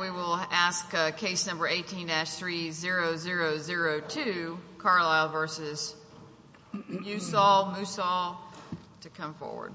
We will ask case number 18-30002 Carlisle v. Musall to come forward.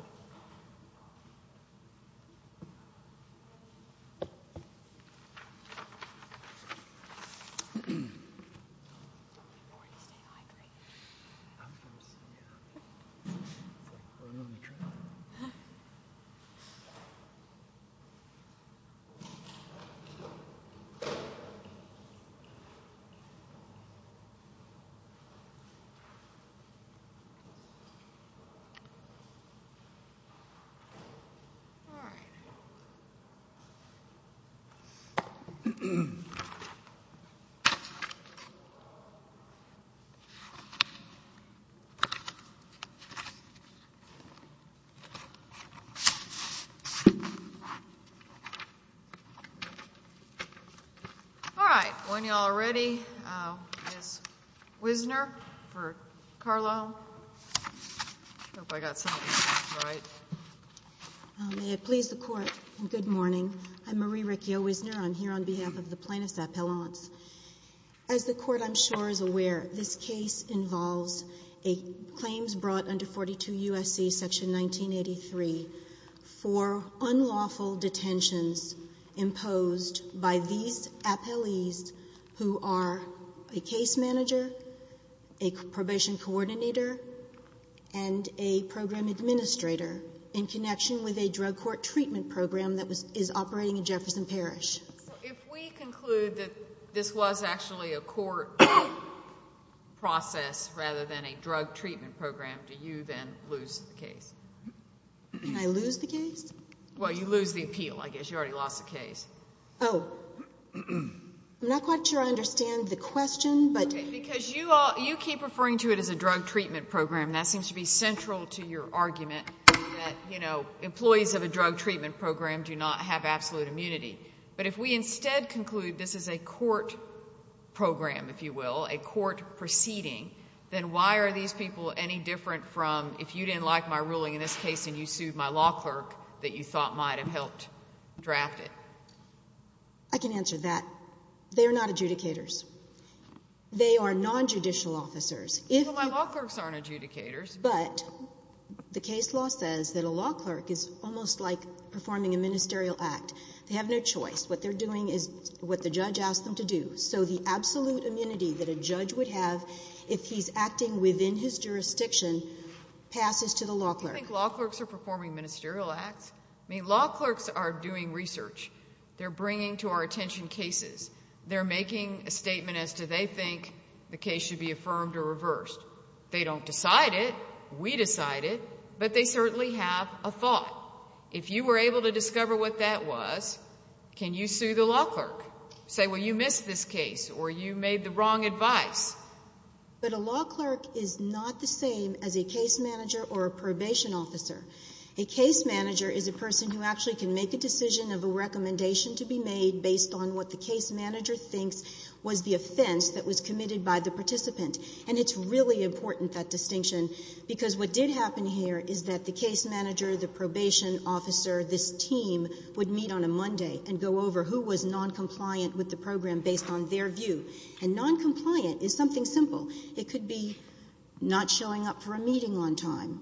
All right. When y'all are ready, Ms. Wisner for Carlisle. I hope I got something right. May it please the Court. Good morning. I'm Marie Riccio Wisner. I'm here on behalf of the plaintiffs' appellants. As the Court, I'm sure, is aware, this case involves claims brought under 42 U.S.C. section 1983 for unlawful detentions imposed by these appellees who are a case manager, a probation coordinator, and a program administrator in connection with a drug court treatment program that is operating in Jefferson Parish. If we conclude that this was actually a court process rather than a drug treatment program, do you then lose the case? Can I lose the case? Well, you lose the appeal. I guess you already lost the case. Oh. I'm not quite sure I understand the question, but Because you keep referring to it as a drug treatment program. That seems to be central to your argument that, you know, employees of a drug treatment program do not have absolute immunity. But if we instead conclude this is a court program, if you will, a court proceeding, then why are these people any different from if you didn't like my ruling in this case and you sued my law clerk that you thought might have helped draft it? I can answer that. They are not adjudicators. They are nonjudicial officers. Even my law clerks aren't adjudicators. But the case law says that a law clerk is almost like performing a ministerial act. They have no choice. What they're doing is what the judge asked them to do. So the absolute immunity that a judge would have if he's acting within his jurisdiction passes to the law clerk. You think law clerks are performing ministerial acts? I mean, law clerks are doing research. They're bringing to our attention cases. They're making a statement as to they think the case should be affirmed or reversed. They don't decide it. We decide it. But they certainly have a thought. If you were able to discover what that was, can you sue the law clerk? Say, well, you missed this case or you made the wrong advice. But a law clerk is not the same as a case manager or a probation officer. A case manager is a person who actually can make a decision of a recommendation to be made based on what the case manager thinks was the offense that was committed by the participant. And it's really important, that distinction, because what did happen here is that the case manager, the probation officer, this team would meet on a Monday and go over who was noncompliant with the program based on their view. And noncompliant is something simple. It could be not showing up for a meeting on time,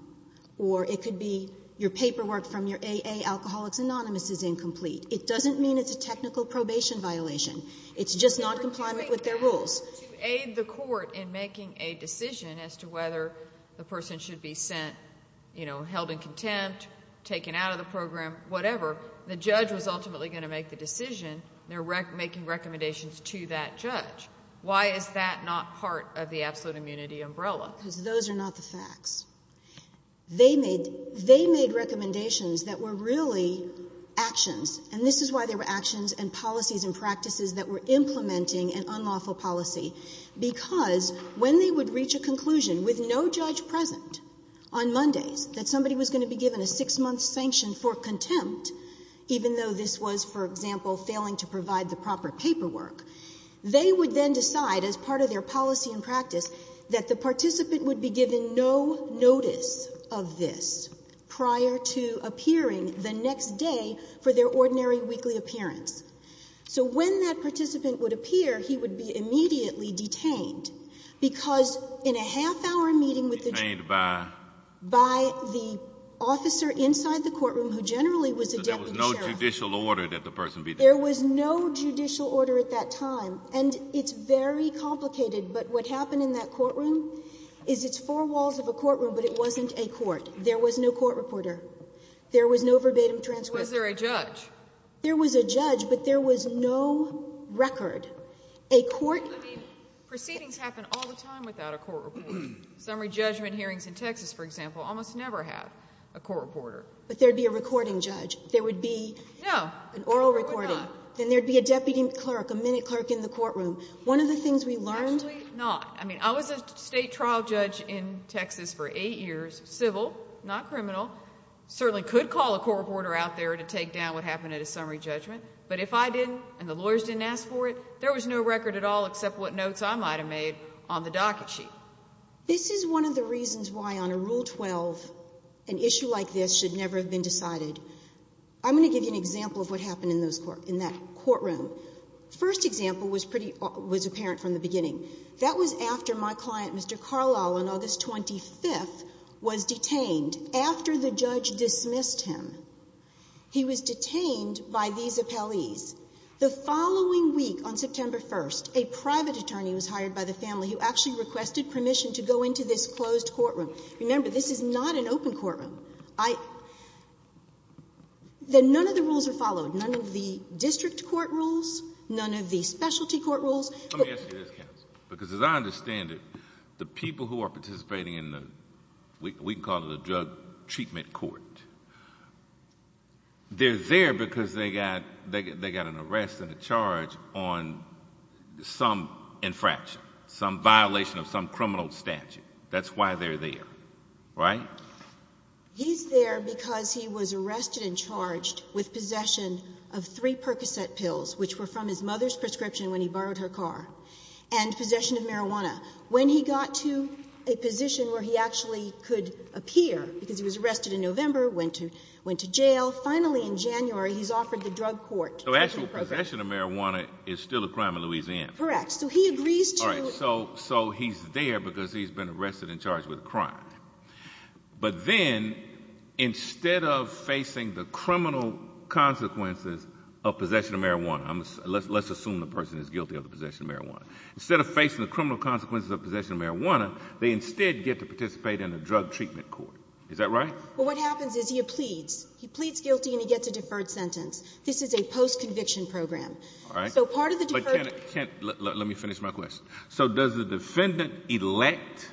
or it could be your paperwork from your AA Alcoholics Anonymous is incomplete. It doesn't mean it's a technical probation violation. It's just noncompliance with their rules. If you're going to have to aid the court in making a decision as to whether the person should be sent, you know, held in contempt, taken out of the program, whatever, the judge was ultimately going to make the decision. They're making recommendations to that judge. Why is that not part of the absolute immunity umbrella? Because those are not the facts. They made recommendations that were really actions, and this is why they were actions and policies and practices that were implementing an unlawful policy, because when they would reach a conclusion with no judge present on Mondays that somebody was going to be given a six-month sanction for contempt, even though this was, for example, failing to provide the proper paperwork, they would then decide as part of their policy and practice that the participant would be given no notice of this prior to appearing the next day for their ordinary weekly appearance. So when that participant would appear, he would be immediately detained, because in a half-hour meeting with the judge, by the officer inside the courtroom who generally was a deputy sheriff, there was no judicial order at that time, and it's very complicated, but what happened in that courtroom is it's four walls of a courtroom, but it wasn't a court. There was no court reporter. There was no verbatim transcript. Was there a judge? There was a judge, but there was no record. I mean, proceedings happen all the time without a court reporter. Summary judgment hearings in Texas, for example, almost never have a court reporter. But there would be a recording judge. There would be an oral recording. No, there would not. Then there would be a deputy clerk, a minute clerk in the courtroom. One of the things we learned. Actually not. I mean, I was a state trial judge in Texas for eight years, civil, not criminal, certainly could call a court reporter out there to take down what happened at a summary judgment, but if I didn't and the lawyers didn't ask for it, there was no record at all except what notes I might have made on the docket sheet. This is one of the reasons why on a Rule 12, an issue like this should never have been decided. I'm going to give you an example of what happened in that courtroom. First example was pretty – was apparent from the beginning. That was after my client, Mr. Carlisle, on August 25th was detained, after the judge dismissed him. He was detained by these appellees. The following week on September 1st, a private attorney was hired by the family who actually requested permission to go into this closed courtroom. Remember, this is not an open courtroom. I – then none of the rules are followed. None of the district court rules, none of the specialty court rules. Let me ask you this, counsel, because as I understand it, the people who are participating in the – we call it a drug treatment court. They're there because they got an arrest and a charge on some infraction, some violation of some criminal statute. That's why they're there, right? He's there because he was arrested and charged with possession of three Percocet pills, which were from his mother's prescription when he borrowed her car, and possession of marijuana. When he got to a position where he actually could appear, because he was arrested in November, went to jail, finally in January he's offered the drug court. So actual possession of marijuana is still a crime in Louisiana. Correct. So he agrees to – So he's there because he's been arrested and charged with a crime. But then instead of facing the criminal consequences of possession of marijuana, let's assume the person is guilty of the possession of marijuana, instead of facing the criminal consequences of possession of marijuana, they instead get to participate in a drug treatment court. Is that right? Well, what happens is he pleads. He pleads guilty and he gets a deferred sentence. This is a post-conviction program. All right. So part of the deferred – Let me finish my question. So does the defendant elect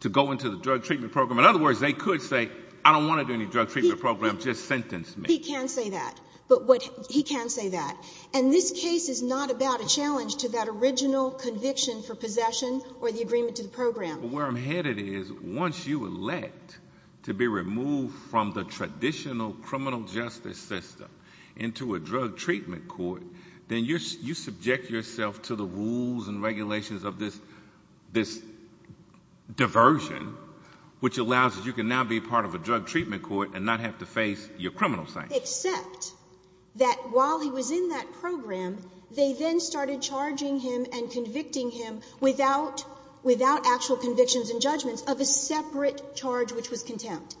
to go into the drug treatment program? In other words, they could say, I don't want to do any drug treatment program, just sentence me. He can say that. But what – he can say that. And this case is not about a challenge to that original conviction for possession or the agreement to the program. Where I'm headed is once you elect to be removed from the traditional criminal justice system into a drug treatment court, then you subject yourself to the rules and regulations of this diversion, which allows that you can now be part of a drug treatment court and not have to face your criminal sanctions. Except that while he was in that program, they then started charging him and convicting him without actual convictions and judgments of a separate charge, which was contempt.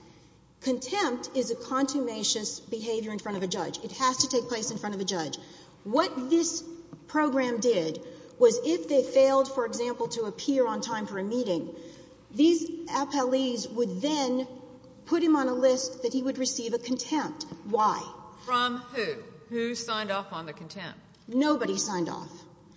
Contempt is a contumacious behavior in front of a judge. It has to take place in front of a judge. What this program did was if they failed, for example, to appear on time for a meeting, these appellees would then put him on a list that he would receive a contempt. Why? From who? Who signed off on the contempt? Nobody signed off.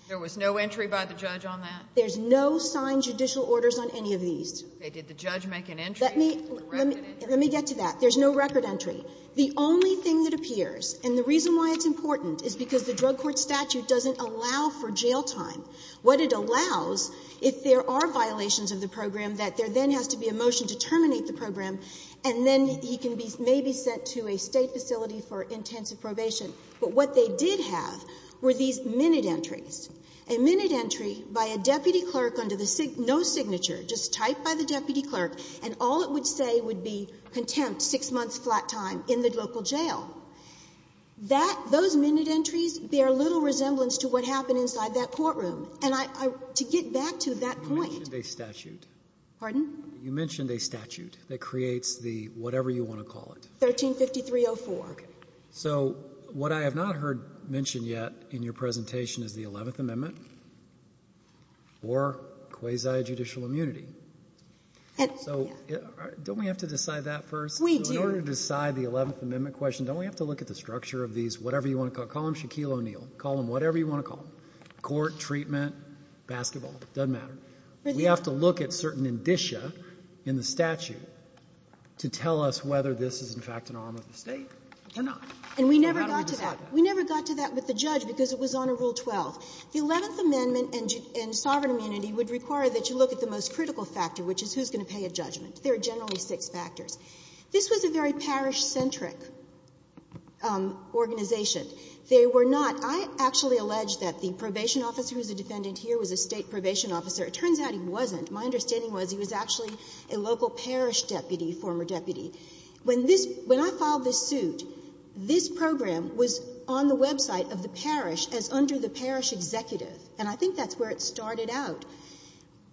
There was no entry by the judge on that? There's no signed judicial orders on any of these. Okay. Did the judge make an entry? Let me get to that. There's no record entry. The only thing that appears, and the reason why it's important, is because the drug court statute doesn't allow for jail time. What it allows, if there are violations of the program, that there then has to be a motion to terminate the program, and then he can be maybe sent to a State facility for intensive probation. But what they did have were these minute entries, a minute entry by a deputy clerk under the no signature, just typed by the deputy clerk, and all it would say would be contempt, six months flat time in the local jail. Those minute entries bear little resemblance to what happened inside that courtroom. And to get back to that point. You mentioned a statute. Pardon? You mentioned a statute that creates the whatever you want to call it. 1353-04. Okay. So what I have not heard mentioned yet in your presentation is the Eleventh Amendment or quasi-judicial immunity. So don't we have to decide that first? We do. In order to decide the Eleventh Amendment question, don't we have to look at the structure of these whatever you want to call them? Call them Shaquille O'Neal. Call them whatever you want to call them. Court, treatment, basketball. It doesn't matter. We have to look at certain indicia in the statute to tell us whether this is, in fact, an arm of the State or not. And we never got to that. How do we decide that? We never got to that with the judge because it was under Rule 12. The Eleventh Amendment and sovereign immunity would require that you look at the most critical factor, which is who's going to pay a judgment. There are generally six factors. This was a very parish-centric organization. They were not — I actually allege that the probation officer who's a defendant here was a State probation officer. It turns out he wasn't. My understanding was he was actually a local parish deputy, former deputy. When this — when I filed this suit, this program was on the website of the parish as under the parish executive. And I think that's where it started out.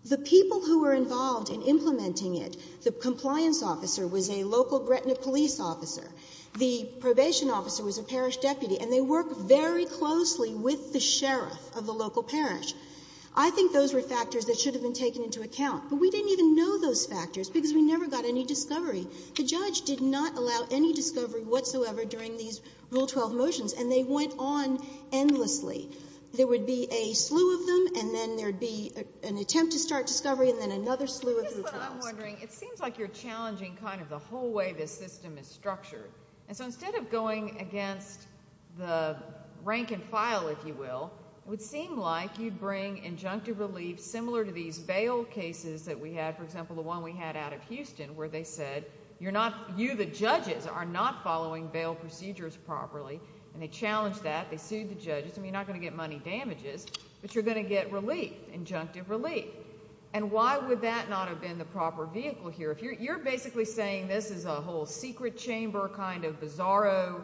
The people who were involved in implementing it, the compliance officer was a local Gretna police officer. The probation officer was a parish deputy. And they work very closely with the sheriff of the local parish. I think those were factors that should have been taken into account. But we didn't even know those factors because we never got any discovery. The judge did not allow any discovery whatsoever during these Rule 12 motions. And they went on endlessly. There would be a slew of them, and then there would be an attempt to start discovery, and then another slew of them. Just what I'm wondering, it seems like you're challenging kind of the whole way this system is structured. And so instead of going against the rank and file, if you will, it would seem like you'd bring injunctive relief similar to these bail cases that we had, for example, the one we had out of Houston where they said you're not — you, the judges, are not following bail procedures properly. And they challenged that. They sued the judges. I mean, you're not going to get money damages, but you're going to get relief, injunctive relief. And why would that not have been the proper vehicle here? You're basically saying this is a whole secret chamber kind of bizarro,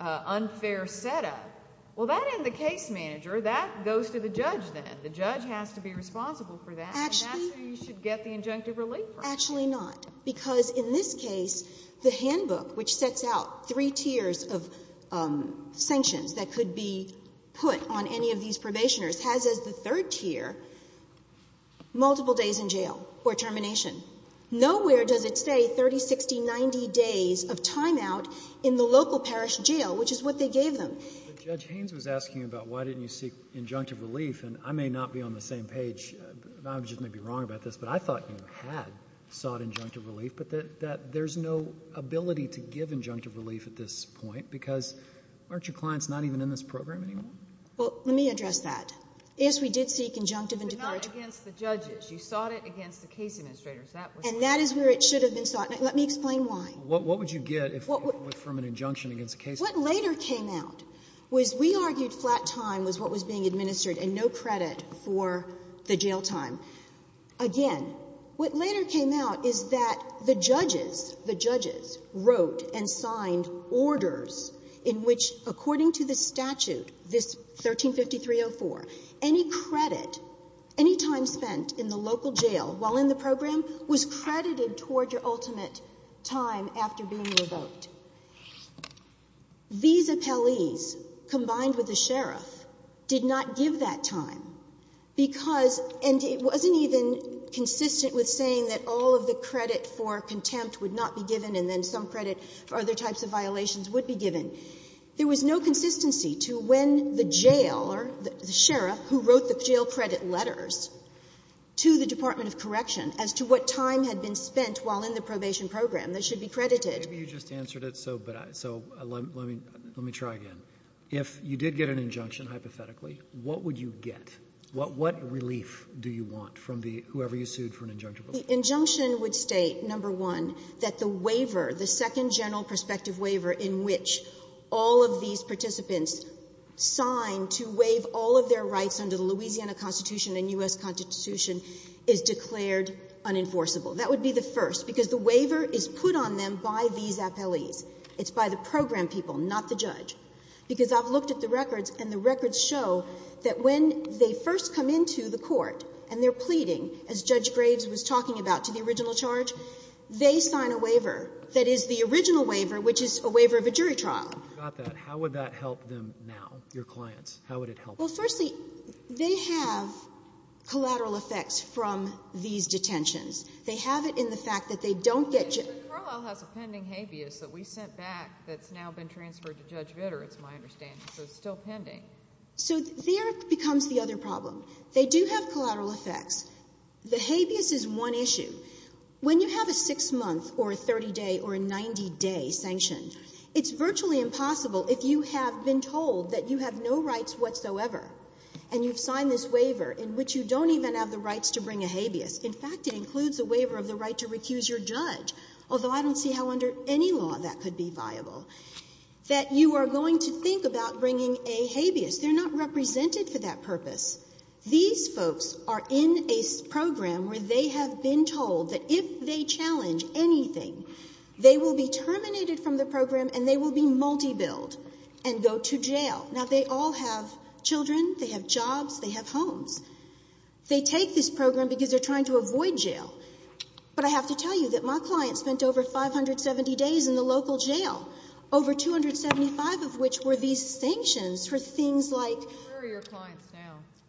unfair setup. Well, that and the case manager, that goes to the judge then. The judge has to be responsible for that. Actually — And that's where you should get the injunctive relief from. Actually not. Because in this case, the handbook, which sets out three tiers of sanctions that could be put on any of these probationers, has as the third tier multiple days in jail or termination. Nowhere does it say 30, 60, 90 days of timeout in the local parish jail, which is what they gave them. But Judge Haynes was asking about why didn't you seek injunctive relief. And I may not be on the same page. I just may be wrong about this. But I thought you had sought injunctive relief, but that there's no ability to give injunctive relief at this point, because aren't your clients not even in this program anymore? Well, let me address that. Yes, we did seek injunctive. But not against the judges. You sought it against the case administrators. And that is where it should have been sought. Let me explain why. What would you get from an injunction against a case administrator? What later came out was we argued flat time was what was being administered and no credit for the jail time. Again, what later came out is that the judges, the judges wrote and signed orders in which, according to the statute, this 1353-04, any credit, any time spent in the local jail while in the program was credited toward your ultimate time after being revoked. These appellees, combined with the sheriff, did not give that time because — and it wasn't even consistent with saying that all of the credit for contempt would not be given and then some credit for other types of violations would be given. There was no consistency to when the jail or the sheriff who wrote the jail credit letters to the Department of Correction as to what time had been spent while in the probation program that should be credited. Maybe you just answered it so, but I — so let me try again. If you did get an injunction, hypothetically, what would you get? What relief do you want from the — whoever you sued for an injunction? The injunction would state, number one, that the waiver, the second general prospective waiver in which all of these participants signed to waive all of their rights under the Louisiana Constitution and U.S. Constitution is declared unenforceable. That would be the first, because the waiver is put on them by these appellees. It's by the program people, not the judge. Because I've looked at the records, and the records show that when they first come into the court and they're pleading, as Judge Graves was talking about, to the original charge, they sign a waiver that is the original waiver, which is a waiver of a jury trial. How would that help them now, your clients? How would it help them? Well, firstly, they have collateral effects from these detentions. They have it in the fact that they don't get — But Carlyle has a pending habeas that we sent back that's now been transferred to Judge Vitter. It's my understanding. So it's still pending. So there becomes the other problem. They do have collateral effects. The habeas is one issue. When you have a 6-month or a 30-day or a 90-day sanction, it's virtually impossible if you have been told that you have no rights whatsoever and you've signed this waiver in which you don't even have the rights to bring a habeas. In fact, it includes a waiver of the right to recuse your judge, although I don't see how under any law that could be viable, that you are going to think about bringing a habeas. They're not represented for that purpose. These folks are in a program where they have been told that if they challenge anything, they will be terminated from the program and they will be multi-billed and go to jail. Now, they all have children. They have jobs. They have homes. They take this program because they're trying to avoid jail. But I have to tell you that my client spent over 570 days in the local jail, over 275 of which were these sanctions for things like… Where are your clients now?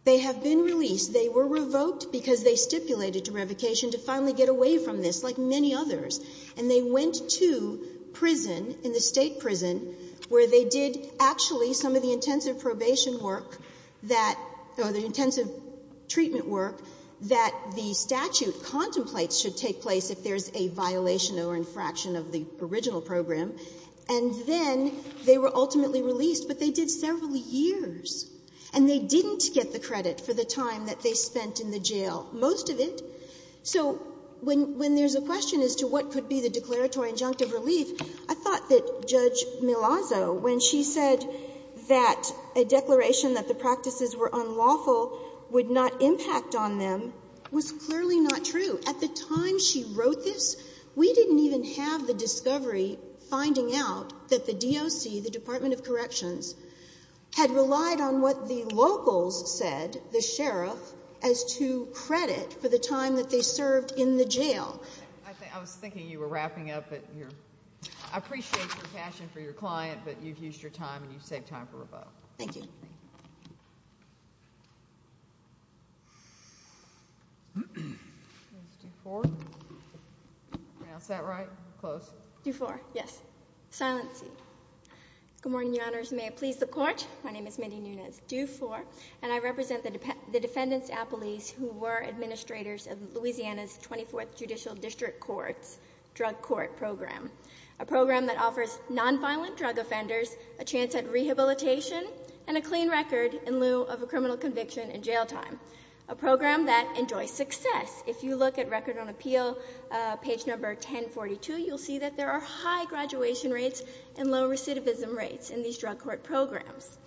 They have been released. They were revoked because they stipulated to revocation to finally get away from this, like many others. And they went to prison, in the state prison, where they did actually some of the intensive probation work that or the intensive treatment work that the statute contemplates should take place if there's a violation or infraction of the original program. And then they were ultimately released, but they did several years. And they didn't get the credit for the time that they spent in the jail, most of it. So when there's a question as to what could be the declaratory injunctive relief, I thought that Judge Malazzo, when she said that a declaration that the practices were unlawful would not impact on them, was clearly not true. At the time she wrote this, we didn't even have the discovery, finding out, that the DOC, the Department of Corrections, had relied on what the locals said, the sheriff, as to credit for the time that they served in the jail. I was thinking you were wrapping up. I appreciate your passion for your client, but you've used your time and you've saved time for rebuttal. Thank you. Is it due for? Is that right? Close. Due for, yes. Silent seat. Good morning, Your Honors. May it please the Court. My name is Mindy Nunes. Due for. And I represent the defendants' appellees who were administrators of Louisiana's 24th Judicial District Court's drug court program, a program that offers nonviolent drug offenders a chance at rehabilitation and a clean record in lieu of a criminal conviction and jail time, a program that enjoys success. If you look at Record on Appeal, page number 1042, you'll see that there are high graduation rates and low recidivism rates in these drug court programs.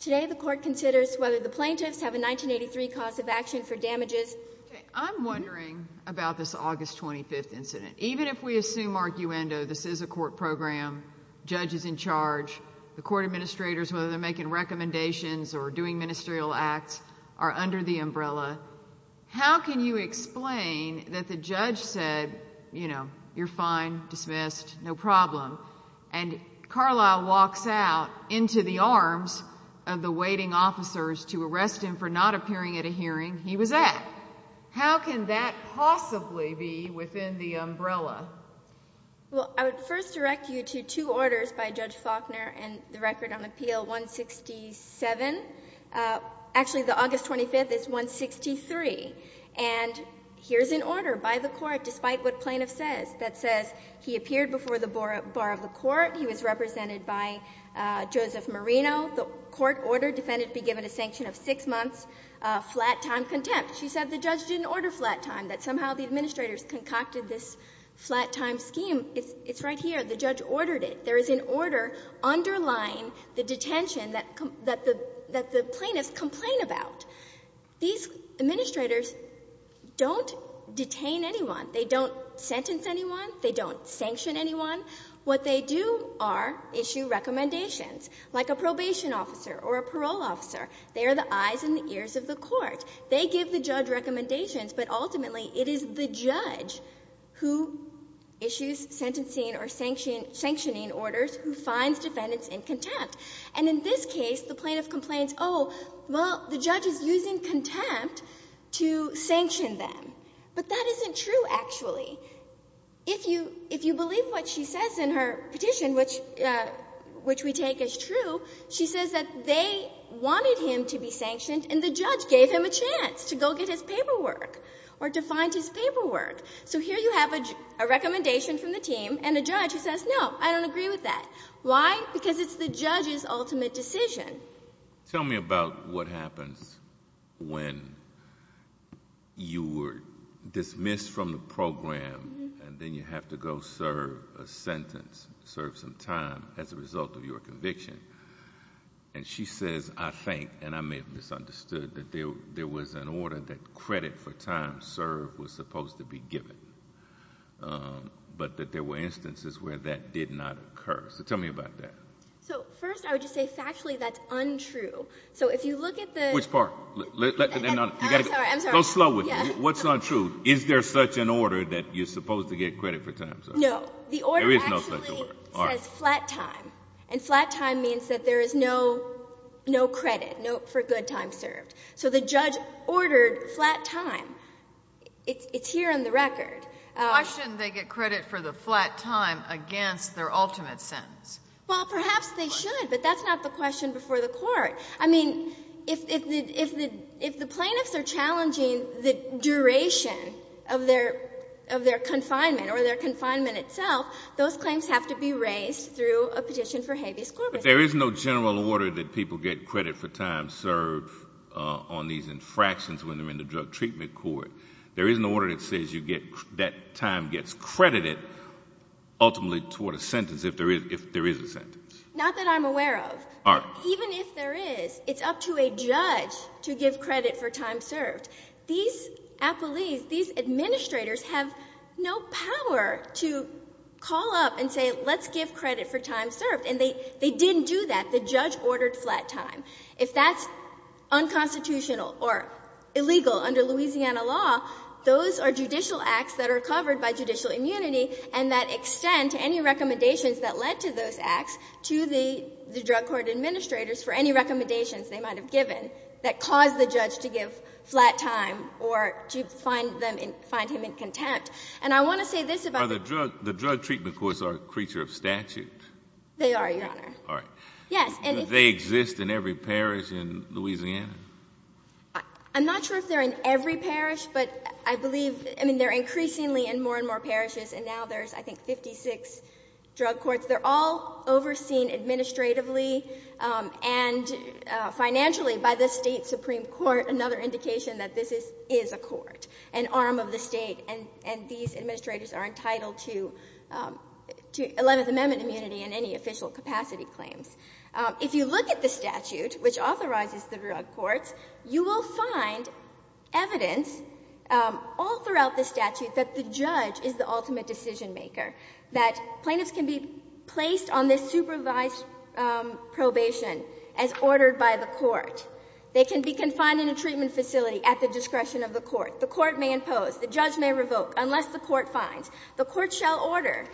Today the Court considers whether the plaintiffs have a 1983 cause of action for damages. I'm wondering about this August 25th incident. Even if we assume arguendo this is a court program, judge is in charge, the court administrators, whether they're making recommendations or doing ministerial acts, are under the umbrella, how can you explain that the judge said, you know, you're fine, dismissed, no problem, and Carlisle walks out into the arms of the waiting officers to arrest him for not appearing at a hearing he was at? How can that possibly be within the umbrella? Well, I would first direct you to two orders by Judge Faulkner and the Record on Appeal 167. Actually, the August 25th is 163. And here's an order by the Court, despite what plaintiff says, that says he appeared before the bar of the Court. He was represented by Joseph Marino. The Court ordered defendant be given a sanction of 6 months flat time contempt. She said the judge didn't order flat time, that somehow the administrators concocted this flat time scheme. It's right here. The judge ordered it. There is an order underlying the detention that the plaintiffs complain about. These administrators don't detain anyone. They don't sentence anyone. They don't sanction anyone. What they do are issue recommendations, like a probation officer or a parole officer. They are the eyes and the ears of the Court. They give the judge recommendations, but ultimately it is the judge who issues sentencing or sanctioning orders who finds defendants in contempt. And in this case, the plaintiff complains, oh, well, the judge is using contempt to sanction them. But that isn't true, actually. If you believe what she says in her petition, which we take as true, she says that they wanted him to be sanctioned and the judge gave him a chance to go get his paperwork or to find his paperwork. So here you have a recommendation from the team and a judge who says, no, I don't agree with that. Why? Because it's the judge's ultimate decision. Tell me about what happens when you were dismissed from the program and then you have to go serve a sentence, serve some time, as a result of your conviction. And she says, I think, and I may have misunderstood, that there was an order that credit for time served was supposed to be given, but that there were instances where that did not occur. So tell me about that. So first I would just say factually that's untrue. So if you look at the — Which part? Go slow with me. What's not true? Is there such an order that you're supposed to get credit for time served? No. There is no such order. The order actually says flat time, and flat time means that there is no credit for good time served. So the judge ordered flat time. It's here in the record. Why shouldn't they get credit for the flat time against their ultimate sentence? Well, perhaps they should, but that's not the question before the court. I mean, if the plaintiffs are challenging the duration of their confinement or their confinement itself, those claims have to be raised through a petition for habeas corpus. But there is no general order that people get credit for time served on these infractions when they're in the drug treatment court. There is no order that says that time gets credited ultimately toward a sentence if there is a sentence. Not that I'm aware of. All right. Even if there is, it's up to a judge to give credit for time served. These appellees, these administrators have no power to call up and say, let's give credit for time served. And they didn't do that. The judge ordered flat time. If that's unconstitutional or illegal under Louisiana law, those are judicial acts that are covered by judicial immunity and that extend to any recommendations that led to those acts to the drug court administrators for any recommendations they might have given that caused the judge to give flat time or to find him in contempt. And I want to say this about the drug treatment courts are a creature of statute. They are, Your Honor. All right. Yes. Do they exist in every parish in Louisiana? I'm not sure if they're in every parish, but I believe they're increasingly in more and more parishes, and now there's, I think, 56 drug courts. They're all overseen administratively and financially by the state supreme court, another indication that this is a court, an arm of the state, and these administrators are entitled to 11th Amendment immunity and any official capacity claims. If you look at the statute, which authorizes the drug courts, you will find evidence all throughout the statute that the judge is the ultimate decision maker, that plaintiffs can be placed on this supervised probation as ordered by the court. They can be confined in a treatment facility at the discretion of the court. The court may impose. The judge may revoke unless the court finds. The court shall order.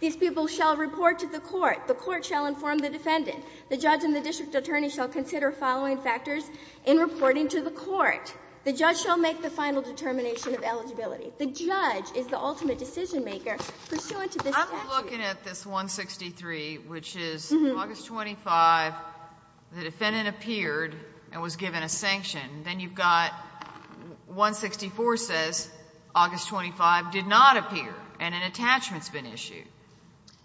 These people shall report to the court. The court shall inform the defendant. The judge and the district attorney shall consider following factors in reporting to the court. The judge shall make the final determination of eligibility. The judge is the ultimate decision maker pursuant to this statute. I'm looking at this 163, which is August 25, the defendant appeared and was given a sanction. Then you've got 164 says August 25 did not appear and an attachment's been issued.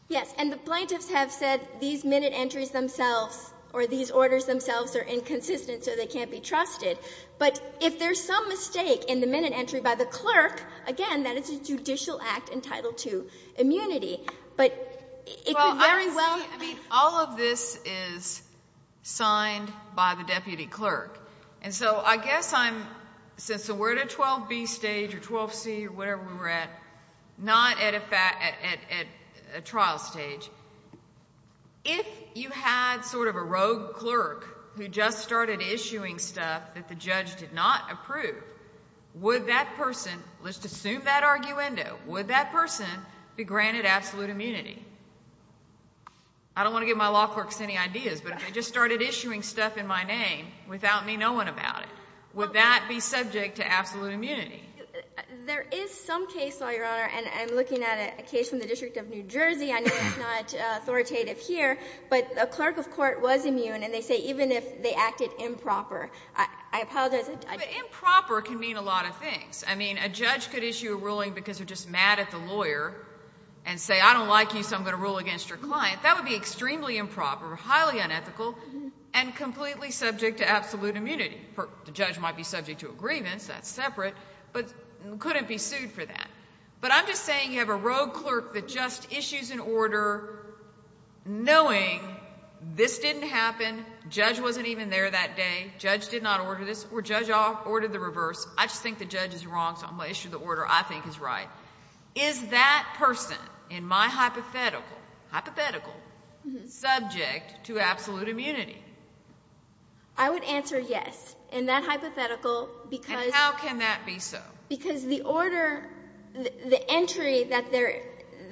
Yes. And the plaintiffs have said these minute entries themselves or these orders themselves are inconsistent, so they can't be trusted. But if there's some mistake in the minute entry by the clerk, again, that is a judicial act entitled to immunity. But it could very well be. Well, I mean, all of this is signed by the deputy clerk. And so I guess I'm, since we're at a 12B stage or 12C or whatever we're at, not at a trial stage, if you had sort of a rogue clerk who just started issuing stuff that the judge did not approve, would that person, let's assume that arguendo, would that person be granted absolute immunity? I don't want to give my law clerks any ideas, but if they just started issuing stuff in my name without me knowing about it, would that be subject to absolute immunity? There is some case, Your Honor, and I'm looking at a case from the District of New Jersey. I know it's not authoritative here. But a clerk of court was immune, and they say even if they acted improper. I apologize. But improper can mean a lot of things. I mean, a judge could issue a ruling because they're just mad at the lawyer and say, I don't like you, so I'm going to rule against your client. That would be extremely improper, highly unethical. And completely subject to absolute immunity. The judge might be subject to a grievance. That's separate. But couldn't be sued for that. But I'm just saying you have a rogue clerk that just issues an order knowing this didn't happen, judge wasn't even there that day, judge did not order this, or judge ordered the reverse. I just think the judge is wrong, so I'm going to issue the order I think is right. Is that person in my hypothetical, hypothetical, subject to absolute immunity? I would answer yes. In that hypothetical, because. And how can that be so? Because the order, the entry that they're,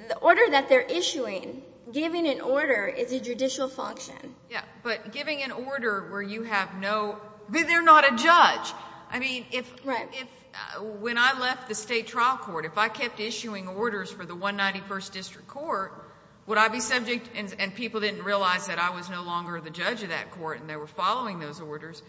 the order that they're issuing, giving an order is a judicial function. Yeah, but giving an order where you have no, they're not a judge. I mean, if. Right. If, when I left the state trial court, if I kept issuing orders for the 191st District Court, would I be subject, and people didn't realize that I was no longer the judge of that court and they were following those orders,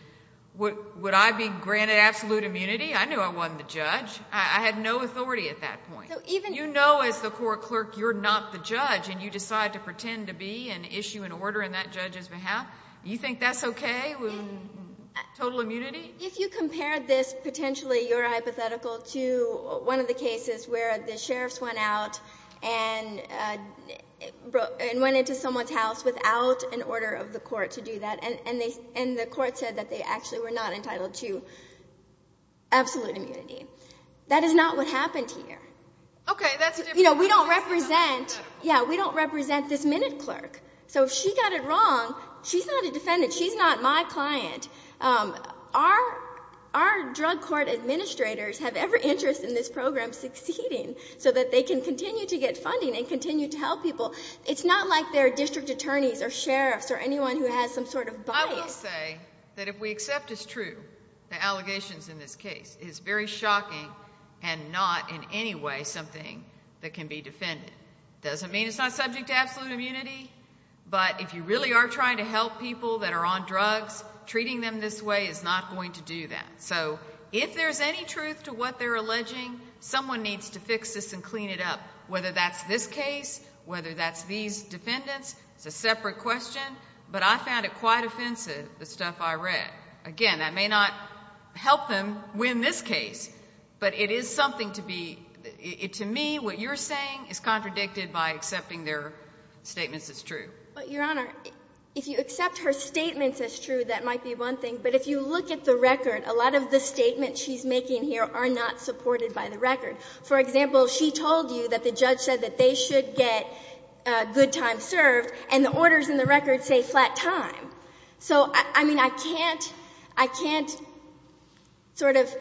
would I be granted absolute immunity? I knew I wasn't the judge. I had no authority at that point. So even. You know as the court clerk you're not the judge and you decide to pretend to be and issue an order on that judge's behalf. You think that's okay with total immunity? If you compared this potentially, your hypothetical, to one of the cases where the sheriffs went out and went into someone's house without an order of the court to do that, and the court said that they actually were not entitled to absolute immunity, that is not what happened here. Okay, that's a different question. You know, we don't represent, yeah, we don't represent this minute clerk. So if she got it wrong, she's not a defendant. She's not my client. Our drug court administrators have every interest in this program succeeding so that they can continue to get funding and continue to help people. It's not like they're district attorneys or sheriffs or anyone who has some sort of bias. I will say that if we accept it's true, the allegations in this case is very shocking and not in any way something that can be defended. It doesn't mean it's not subject to absolute immunity, but if you really are trying to help people that are on drugs, treating them this way is not going to do that. So if there's any truth to what they're alleging, someone needs to fix this and clean it up. Whether that's this case, whether that's these defendants, it's a separate question, but I found it quite offensive, the stuff I read. Again, that may not help them win this case, but it is something to be, to me, what you're saying is contradicted by accepting their statements as true. But, Your Honor, if you accept her statements as true, that might be one thing. But if you look at the record, a lot of the statements she's making here are not supported by the record. For example, she told you that the judge said that they should get good time served, and the orders in the record say flat time. So, I mean, I can't, I can't sort of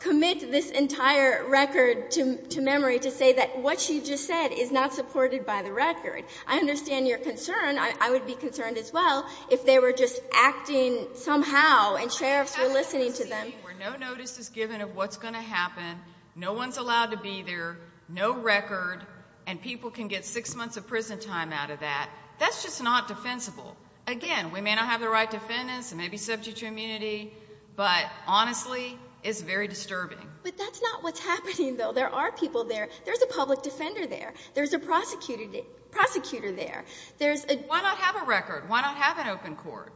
commit this entire record to memory to say that what she just said is not supported by the record. I understand your concern. I would be concerned as well if they were just acting somehow, and sheriffs were listening to them. No notice is given of what's going to happen. No one's allowed to be there. No record. And people can get six months of prison time out of that. That's just not defensible. Again, we may not have the right defendants. It may be subject to immunity. But, honestly, it's very disturbing. But that's not what's happening, though. There are people there. There's a public defender there. There's a prosecutor there. There's a — Why not have a record? Why not have an open court?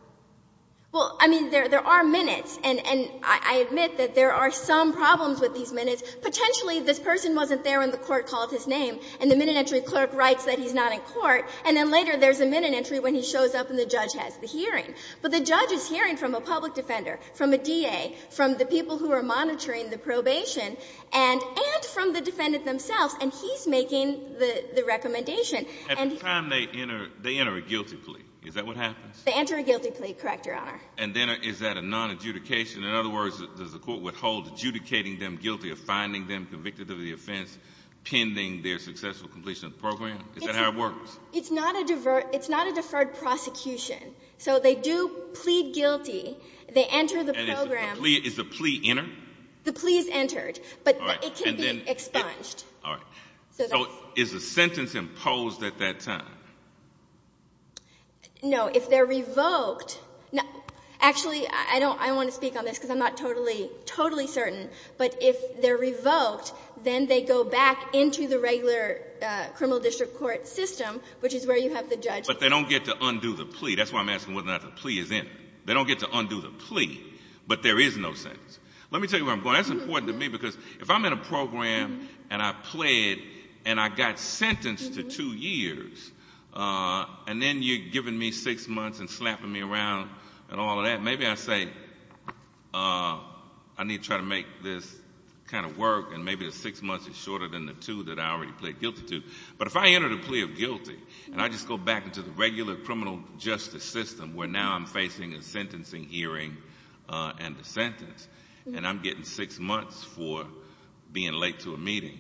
Well, I mean, there are minutes. And I admit that there are some problems with these minutes. Potentially this person wasn't there when the court called his name, and the minute entry clerk writes that he's not in court, and then later there's a minute entry when he shows up and the judge has the hearing. But the judge is hearing from a public defender, from a DA, from the people who are monitoring the probation, and from the defendant themselves, and he's making the recommendation. At the time they enter, they enter a guilty plea. Is that what happens? They enter a guilty plea. Correct, Your Honor. And then is that a nonadjudication? In other words, does the court withhold adjudicating them guilty of finding them convicted of the offense pending their successful completion of the program? Is that how it works? It's not a deferred prosecution. So they do plead guilty. They enter the program. And is the plea entered? The plea is entered. But it can be expunged. All right. So is a sentence imposed at that time? No. If they're revoked, actually, I want to speak on this because I'm not totally, totally certain, but if they're revoked, then they go back into the regular criminal district court system, which is where you have the judge. But they don't get to undo the plea. That's why I'm asking whether or not the plea is entered. They don't get to undo the plea, but there is no sentence. Let me tell you where I'm going. That's important to me because if I'm in a program and I plead and I got sentenced to two years and then you're giving me six months and slapping me around and all of that, maybe I say I need to try to make this kind of work and maybe the six months is shorter than the two that I already pleaded guilty to. But if I enter the plea of guilty and I just go back into the regular criminal justice system where now I'm facing a sentencing hearing and a six months for being late to a meeting,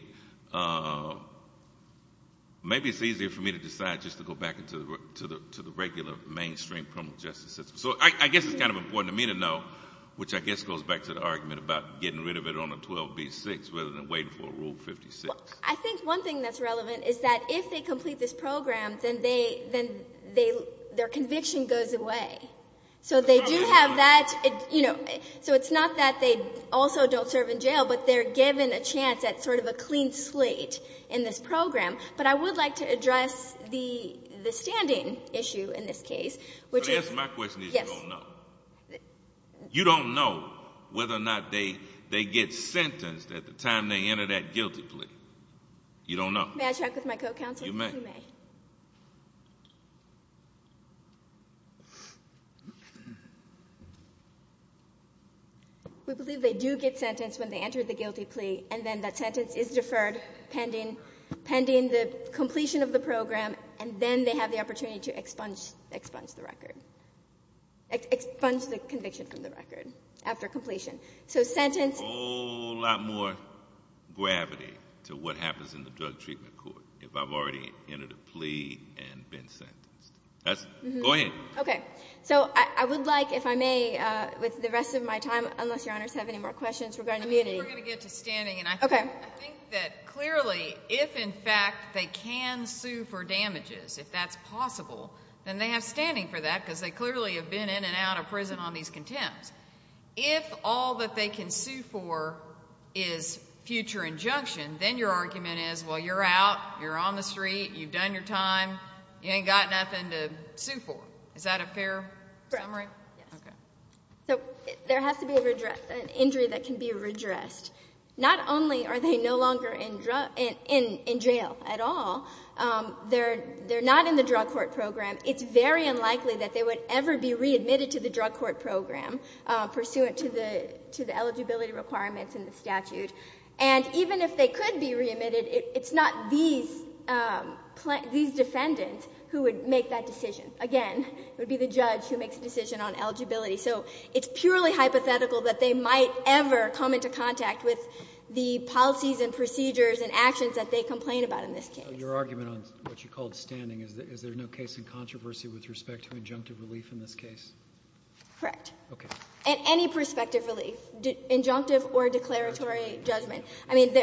maybe it's easier for me to decide just to go back into the regular mainstream criminal justice system. So I guess it's kind of important for me to know, which I guess goes back to the argument about getting rid of it on a 12B6 rather than waiting for a Rule 56. I think one thing that's relevant is that if they complete this program, then their conviction goes away. So they do have that. So it's not that they also don't serve in jail, but they're given a chance at sort of a clean slate in this program. But I would like to address the standing issue in this case. My question is you don't know. You don't know whether or not they get sentenced at the time they enter that guilty plea. You don't know. May I check with my co-counsel? You may. We believe they do get sentenced when they enter the guilty plea, and then that sentence is deferred pending the completion of the program, and then they have the opportunity to expunge the record, expunge the conviction from the record after completion. So sentence – A whole lot more gravity to what happens in the drug treatment court if I've already entered a plea and been sentenced. Go ahead. Okay. So I would like, if I may, with the rest of my time, unless Your Honors have any more questions regarding immunity. I think we're going to get to standing. Okay. I think that clearly if, in fact, they can sue for damages, if that's possible, then they have standing for that because they clearly have been in and out of prison on these contempts. If all that they can sue for is future injunction, then your argument is, well, you're out, you're on the street, you've done your time, you ain't got nothing to sue for. Is that a fair summary? Correct. Yes. Okay. So there has to be an injury that can be redressed. Not only are they no longer in jail at all, they're not in the drug court program. It's very unlikely that they would ever be readmitted to the drug court program pursuant to the eligibility requirements in the statute. And even if they could be readmitted, it's not these defendants who would make that decision. Again, it would be the judge who makes the decision on eligibility. So it's purely hypothetical that they might ever come into contact with the policies and procedures and actions that they complain about in this case. Your argument on what you called standing, is there no case in controversy with respect to injunctive relief in this case? Correct. Okay. Any prospective relief, injunctive or declaratory judgment. I mean,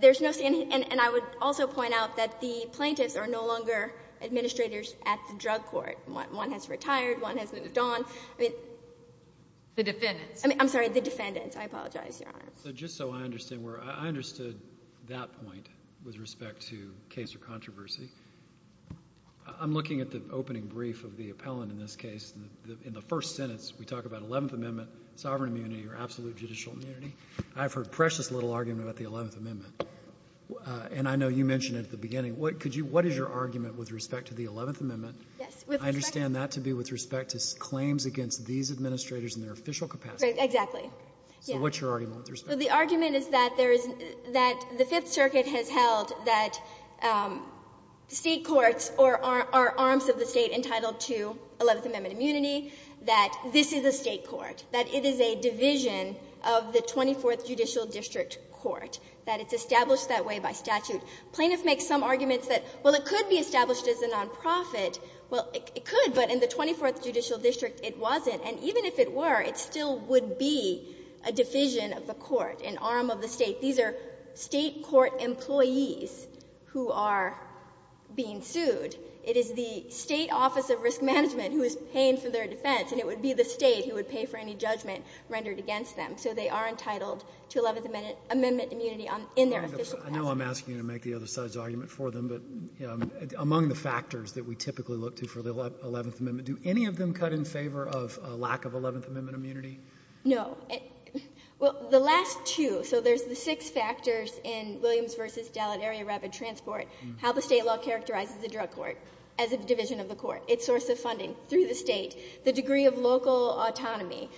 there's no standing. And I would also point out that the plaintiffs are no longer administrators at the drug court. One has retired, one has moved on. The defendants. I'm sorry, the defendants. I apologize, Your Honor. Just so I understand, I understood that point with respect to case or controversy. I'm looking at the opening brief of the appellant in this case. In the first sentence, we talk about Eleventh Amendment, sovereign immunity or absolute judicial immunity. I've heard precious little argument about the Eleventh Amendment. And I know you mentioned it at the beginning. What is your argument with respect to the Eleventh Amendment? Yes. I understand that to be with respect to claims against these administrators in their official capacity. Exactly. So what's your argument with respect to that? The argument is that the Fifth Circuit has held that State courts are arms of the State entitled to Eleventh Amendment immunity, that this is a State court, that it is a division of the 24th Judicial District Court, that it's established that way by statute. Plaintiffs make some arguments that, well, it could be established as a nonprofit. Well, it could, but in the 24th Judicial District, it wasn't. And even if it were, it still would be a division of the court, an arm of the State. These are State court employees who are being sued. It is the State Office of Risk Management who is paying for their defense, and it would be the State who would pay for any judgment rendered against them. So they are entitled to Eleventh Amendment immunity in their official capacity. I know I'm asking you to make the other side's argument for them, but among the factors that we typically look to for the Eleventh Amendment, do any of them cut in favor of a lack of Eleventh Amendment immunity? No. Well, the last two, so there's the six factors in Williams v. Dallet Area Rapid Transport, how the State law characterizes the drug court as a division of the court, its source of funding through the State, the degree of local autonomy.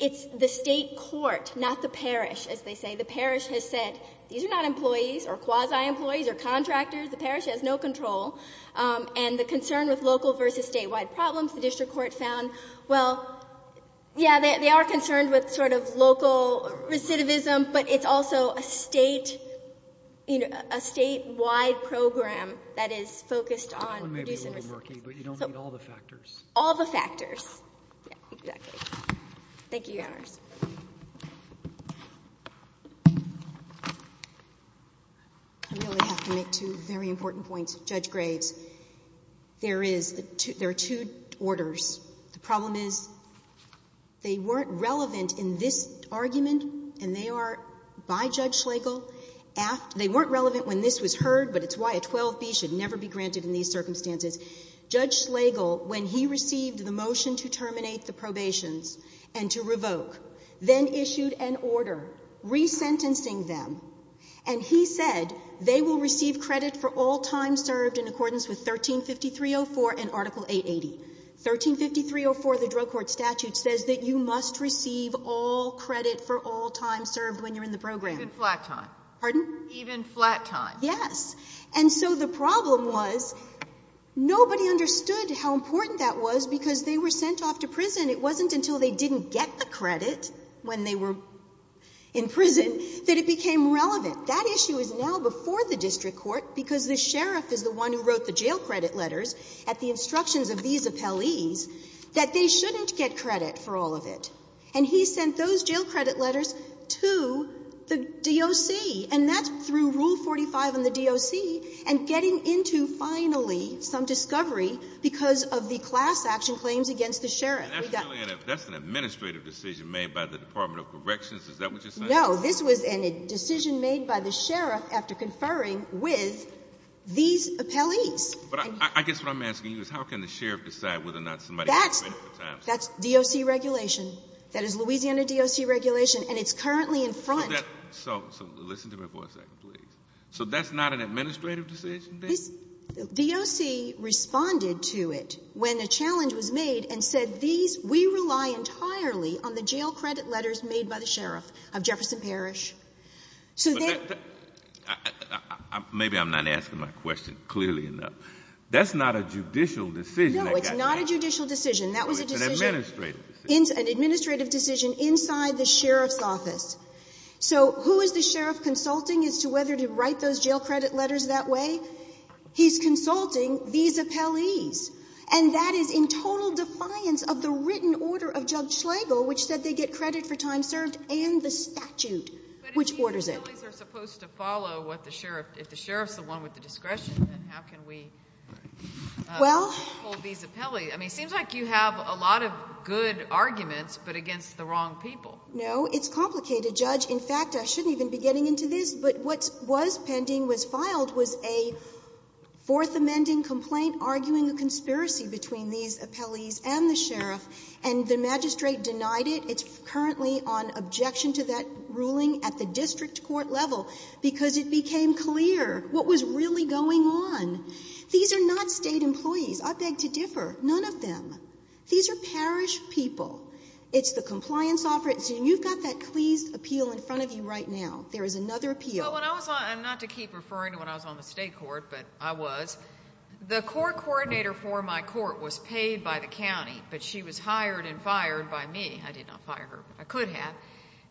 It's the State court, not the parish, as they say. The parish has said, these are not employees or quasi-employees or contractors. The parish has no control. And the concern with local versus statewide problems, the district court found, well, yeah, they are concerned with sort of local recidivism, but it's also a State, you know, a statewide program that is focused on reducing recidivism. That one may be a little murky, but you don't need all the factors. All the factors. Yes. Exactly. Thank you, Your Honors. I really have to make two very important points. Judge Graves, there is, there are two orders. The problem is they weren't relevant in this argument, and they are by Judge Schlegel. They weren't relevant when this was heard, but it's why a 12B should never be granted in these circumstances. Judge Schlegel, when he received the motion to terminate the probations and to revoke, then issued an order resentencing them, and he said they will receive credit for all time served in accordance with 1353.04 and Article 880. 1353.04 of the Drug Court Statute says that you must receive all credit for all time served when you're in the program. Even flat time. Pardon? Even flat time. Yes. And so the problem was nobody understood how important that was because they were sent off to prison. It wasn't until they didn't get the credit when they were in prison that it became relevant. That issue is now before the district court because the sheriff is the one who wrote the jail credit letters at the instructions of these appellees that they shouldn't get credit for all of it, and he sent those jail credit letters to the DOC, and that's through Rule 245 on the DOC, and getting into, finally, some discovery because of the class action claims against the sheriff. That's really an administrative decision made by the Department of Corrections. Is that what you're saying? No. This was a decision made by the sheriff after conferring with these appellees. But I guess what I'm asking you is how can the sheriff decide whether or not somebody gets credit for time served? That's DOC regulation. That is Louisiana DOC regulation, and it's currently in front. So listen to me for a second, please. So that's not an administrative decision? DOC responded to it when a challenge was made and said these, we rely entirely on the jail credit letters made by the sheriff of Jefferson Parish. Maybe I'm not asking my question clearly enough. That's not a judicial decision. No, it's not a judicial decision. That was a decision. An administrative decision. inside the sheriff's office. So who is the sheriff consulting as to whether to write those jail credit letters that way? He's consulting these appellees, and that is in total defiance of the written order of Judge Schlegel, which said they get credit for time served, and the statute, which borders it. But if these appellees are supposed to follow what the sheriff, if the sheriff's the one with the discretion, then how can we uphold these appellees? I mean, it seems like you have a lot of good arguments, but against the wrong people. No, it's complicated, Judge. In fact, I shouldn't even be getting into this, but what was pending, was filed, was a fourth amending complaint arguing a conspiracy between these appellees and the sheriff, and the magistrate denied it. It's currently on objection to that ruling at the district court level because it became clear what was really going on. These are not state employees. I beg to differ. None of them. These are parish people. It's the compliance officer, and you've got that Cleese appeal in front of you right now. There is another appeal. Well, I'm not to keep referring to when I was on the state court, but I was. The court coordinator for my court was paid by the county, but she was hired and fired by me. I did not fire her. I could have.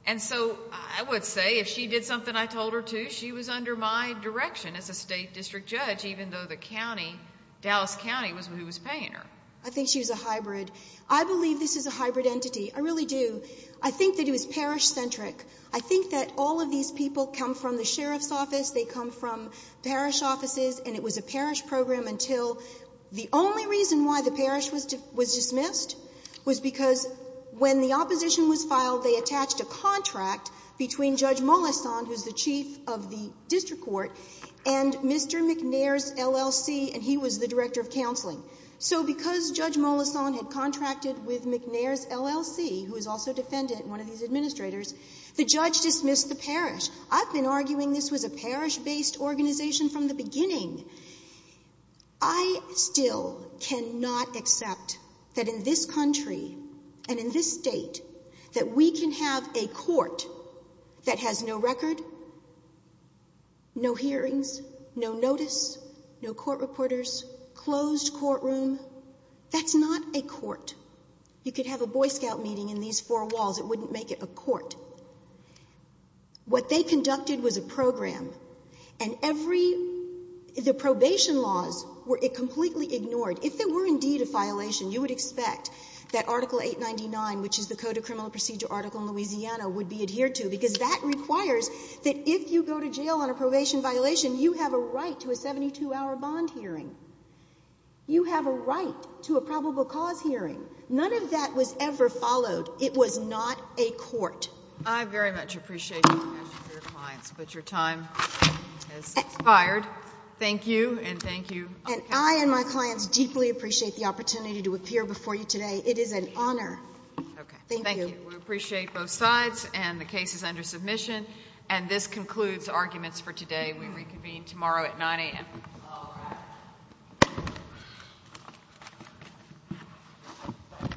And so I would say if she did something I told her to, she was under my direction as a state district judge, even though the county, Dallas County, was who was paying her. I think she was a hybrid. I believe this is a hybrid entity. I really do. I think that it was parish-centric. I think that all of these people come from the sheriff's office. They come from parish offices, and it was a parish program until the only reason why the parish was dismissed was because when the opposition was filed, they attached a contract between Judge Molison, who's the chief of the district court, and Mr. McNair's LLC, and he was the director of counseling. So, because Judge Molison had contracted with McNair's LLC, who is also a defendant and one of these administrators, the judge dismissed the parish. I've been arguing this was a parish-based organization from the beginning. I still cannot accept that in this country and in this state that we can have a court that has no record, no hearings, no notice, no court reporters, closed courtroom. That's not a court. You could have a Boy Scout meeting in these four walls. It wouldn't make it a court. What they conducted was a program, and every, the probation laws were completely ignored. If there were indeed a violation, you would expect that Article 899, which is the Code of Criminal Procedure Article in Louisiana, would be adhered to, because that requires that if you go to jail on a probation violation, you have a right to a 72-hour bond hearing. You have a right to a probable cause hearing. None of that was ever followed. It was not a court. I very much appreciate your attention to your clients, but your time has expired. Thank you, and thank you. And I and my clients deeply appreciate the opportunity to appear before you today. It is an honor. Okay. Thank you. Thank you. We appreciate both sides, and the case is under submission. And this concludes arguments for today. We reconvene tomorrow at 9 a.m. All rise.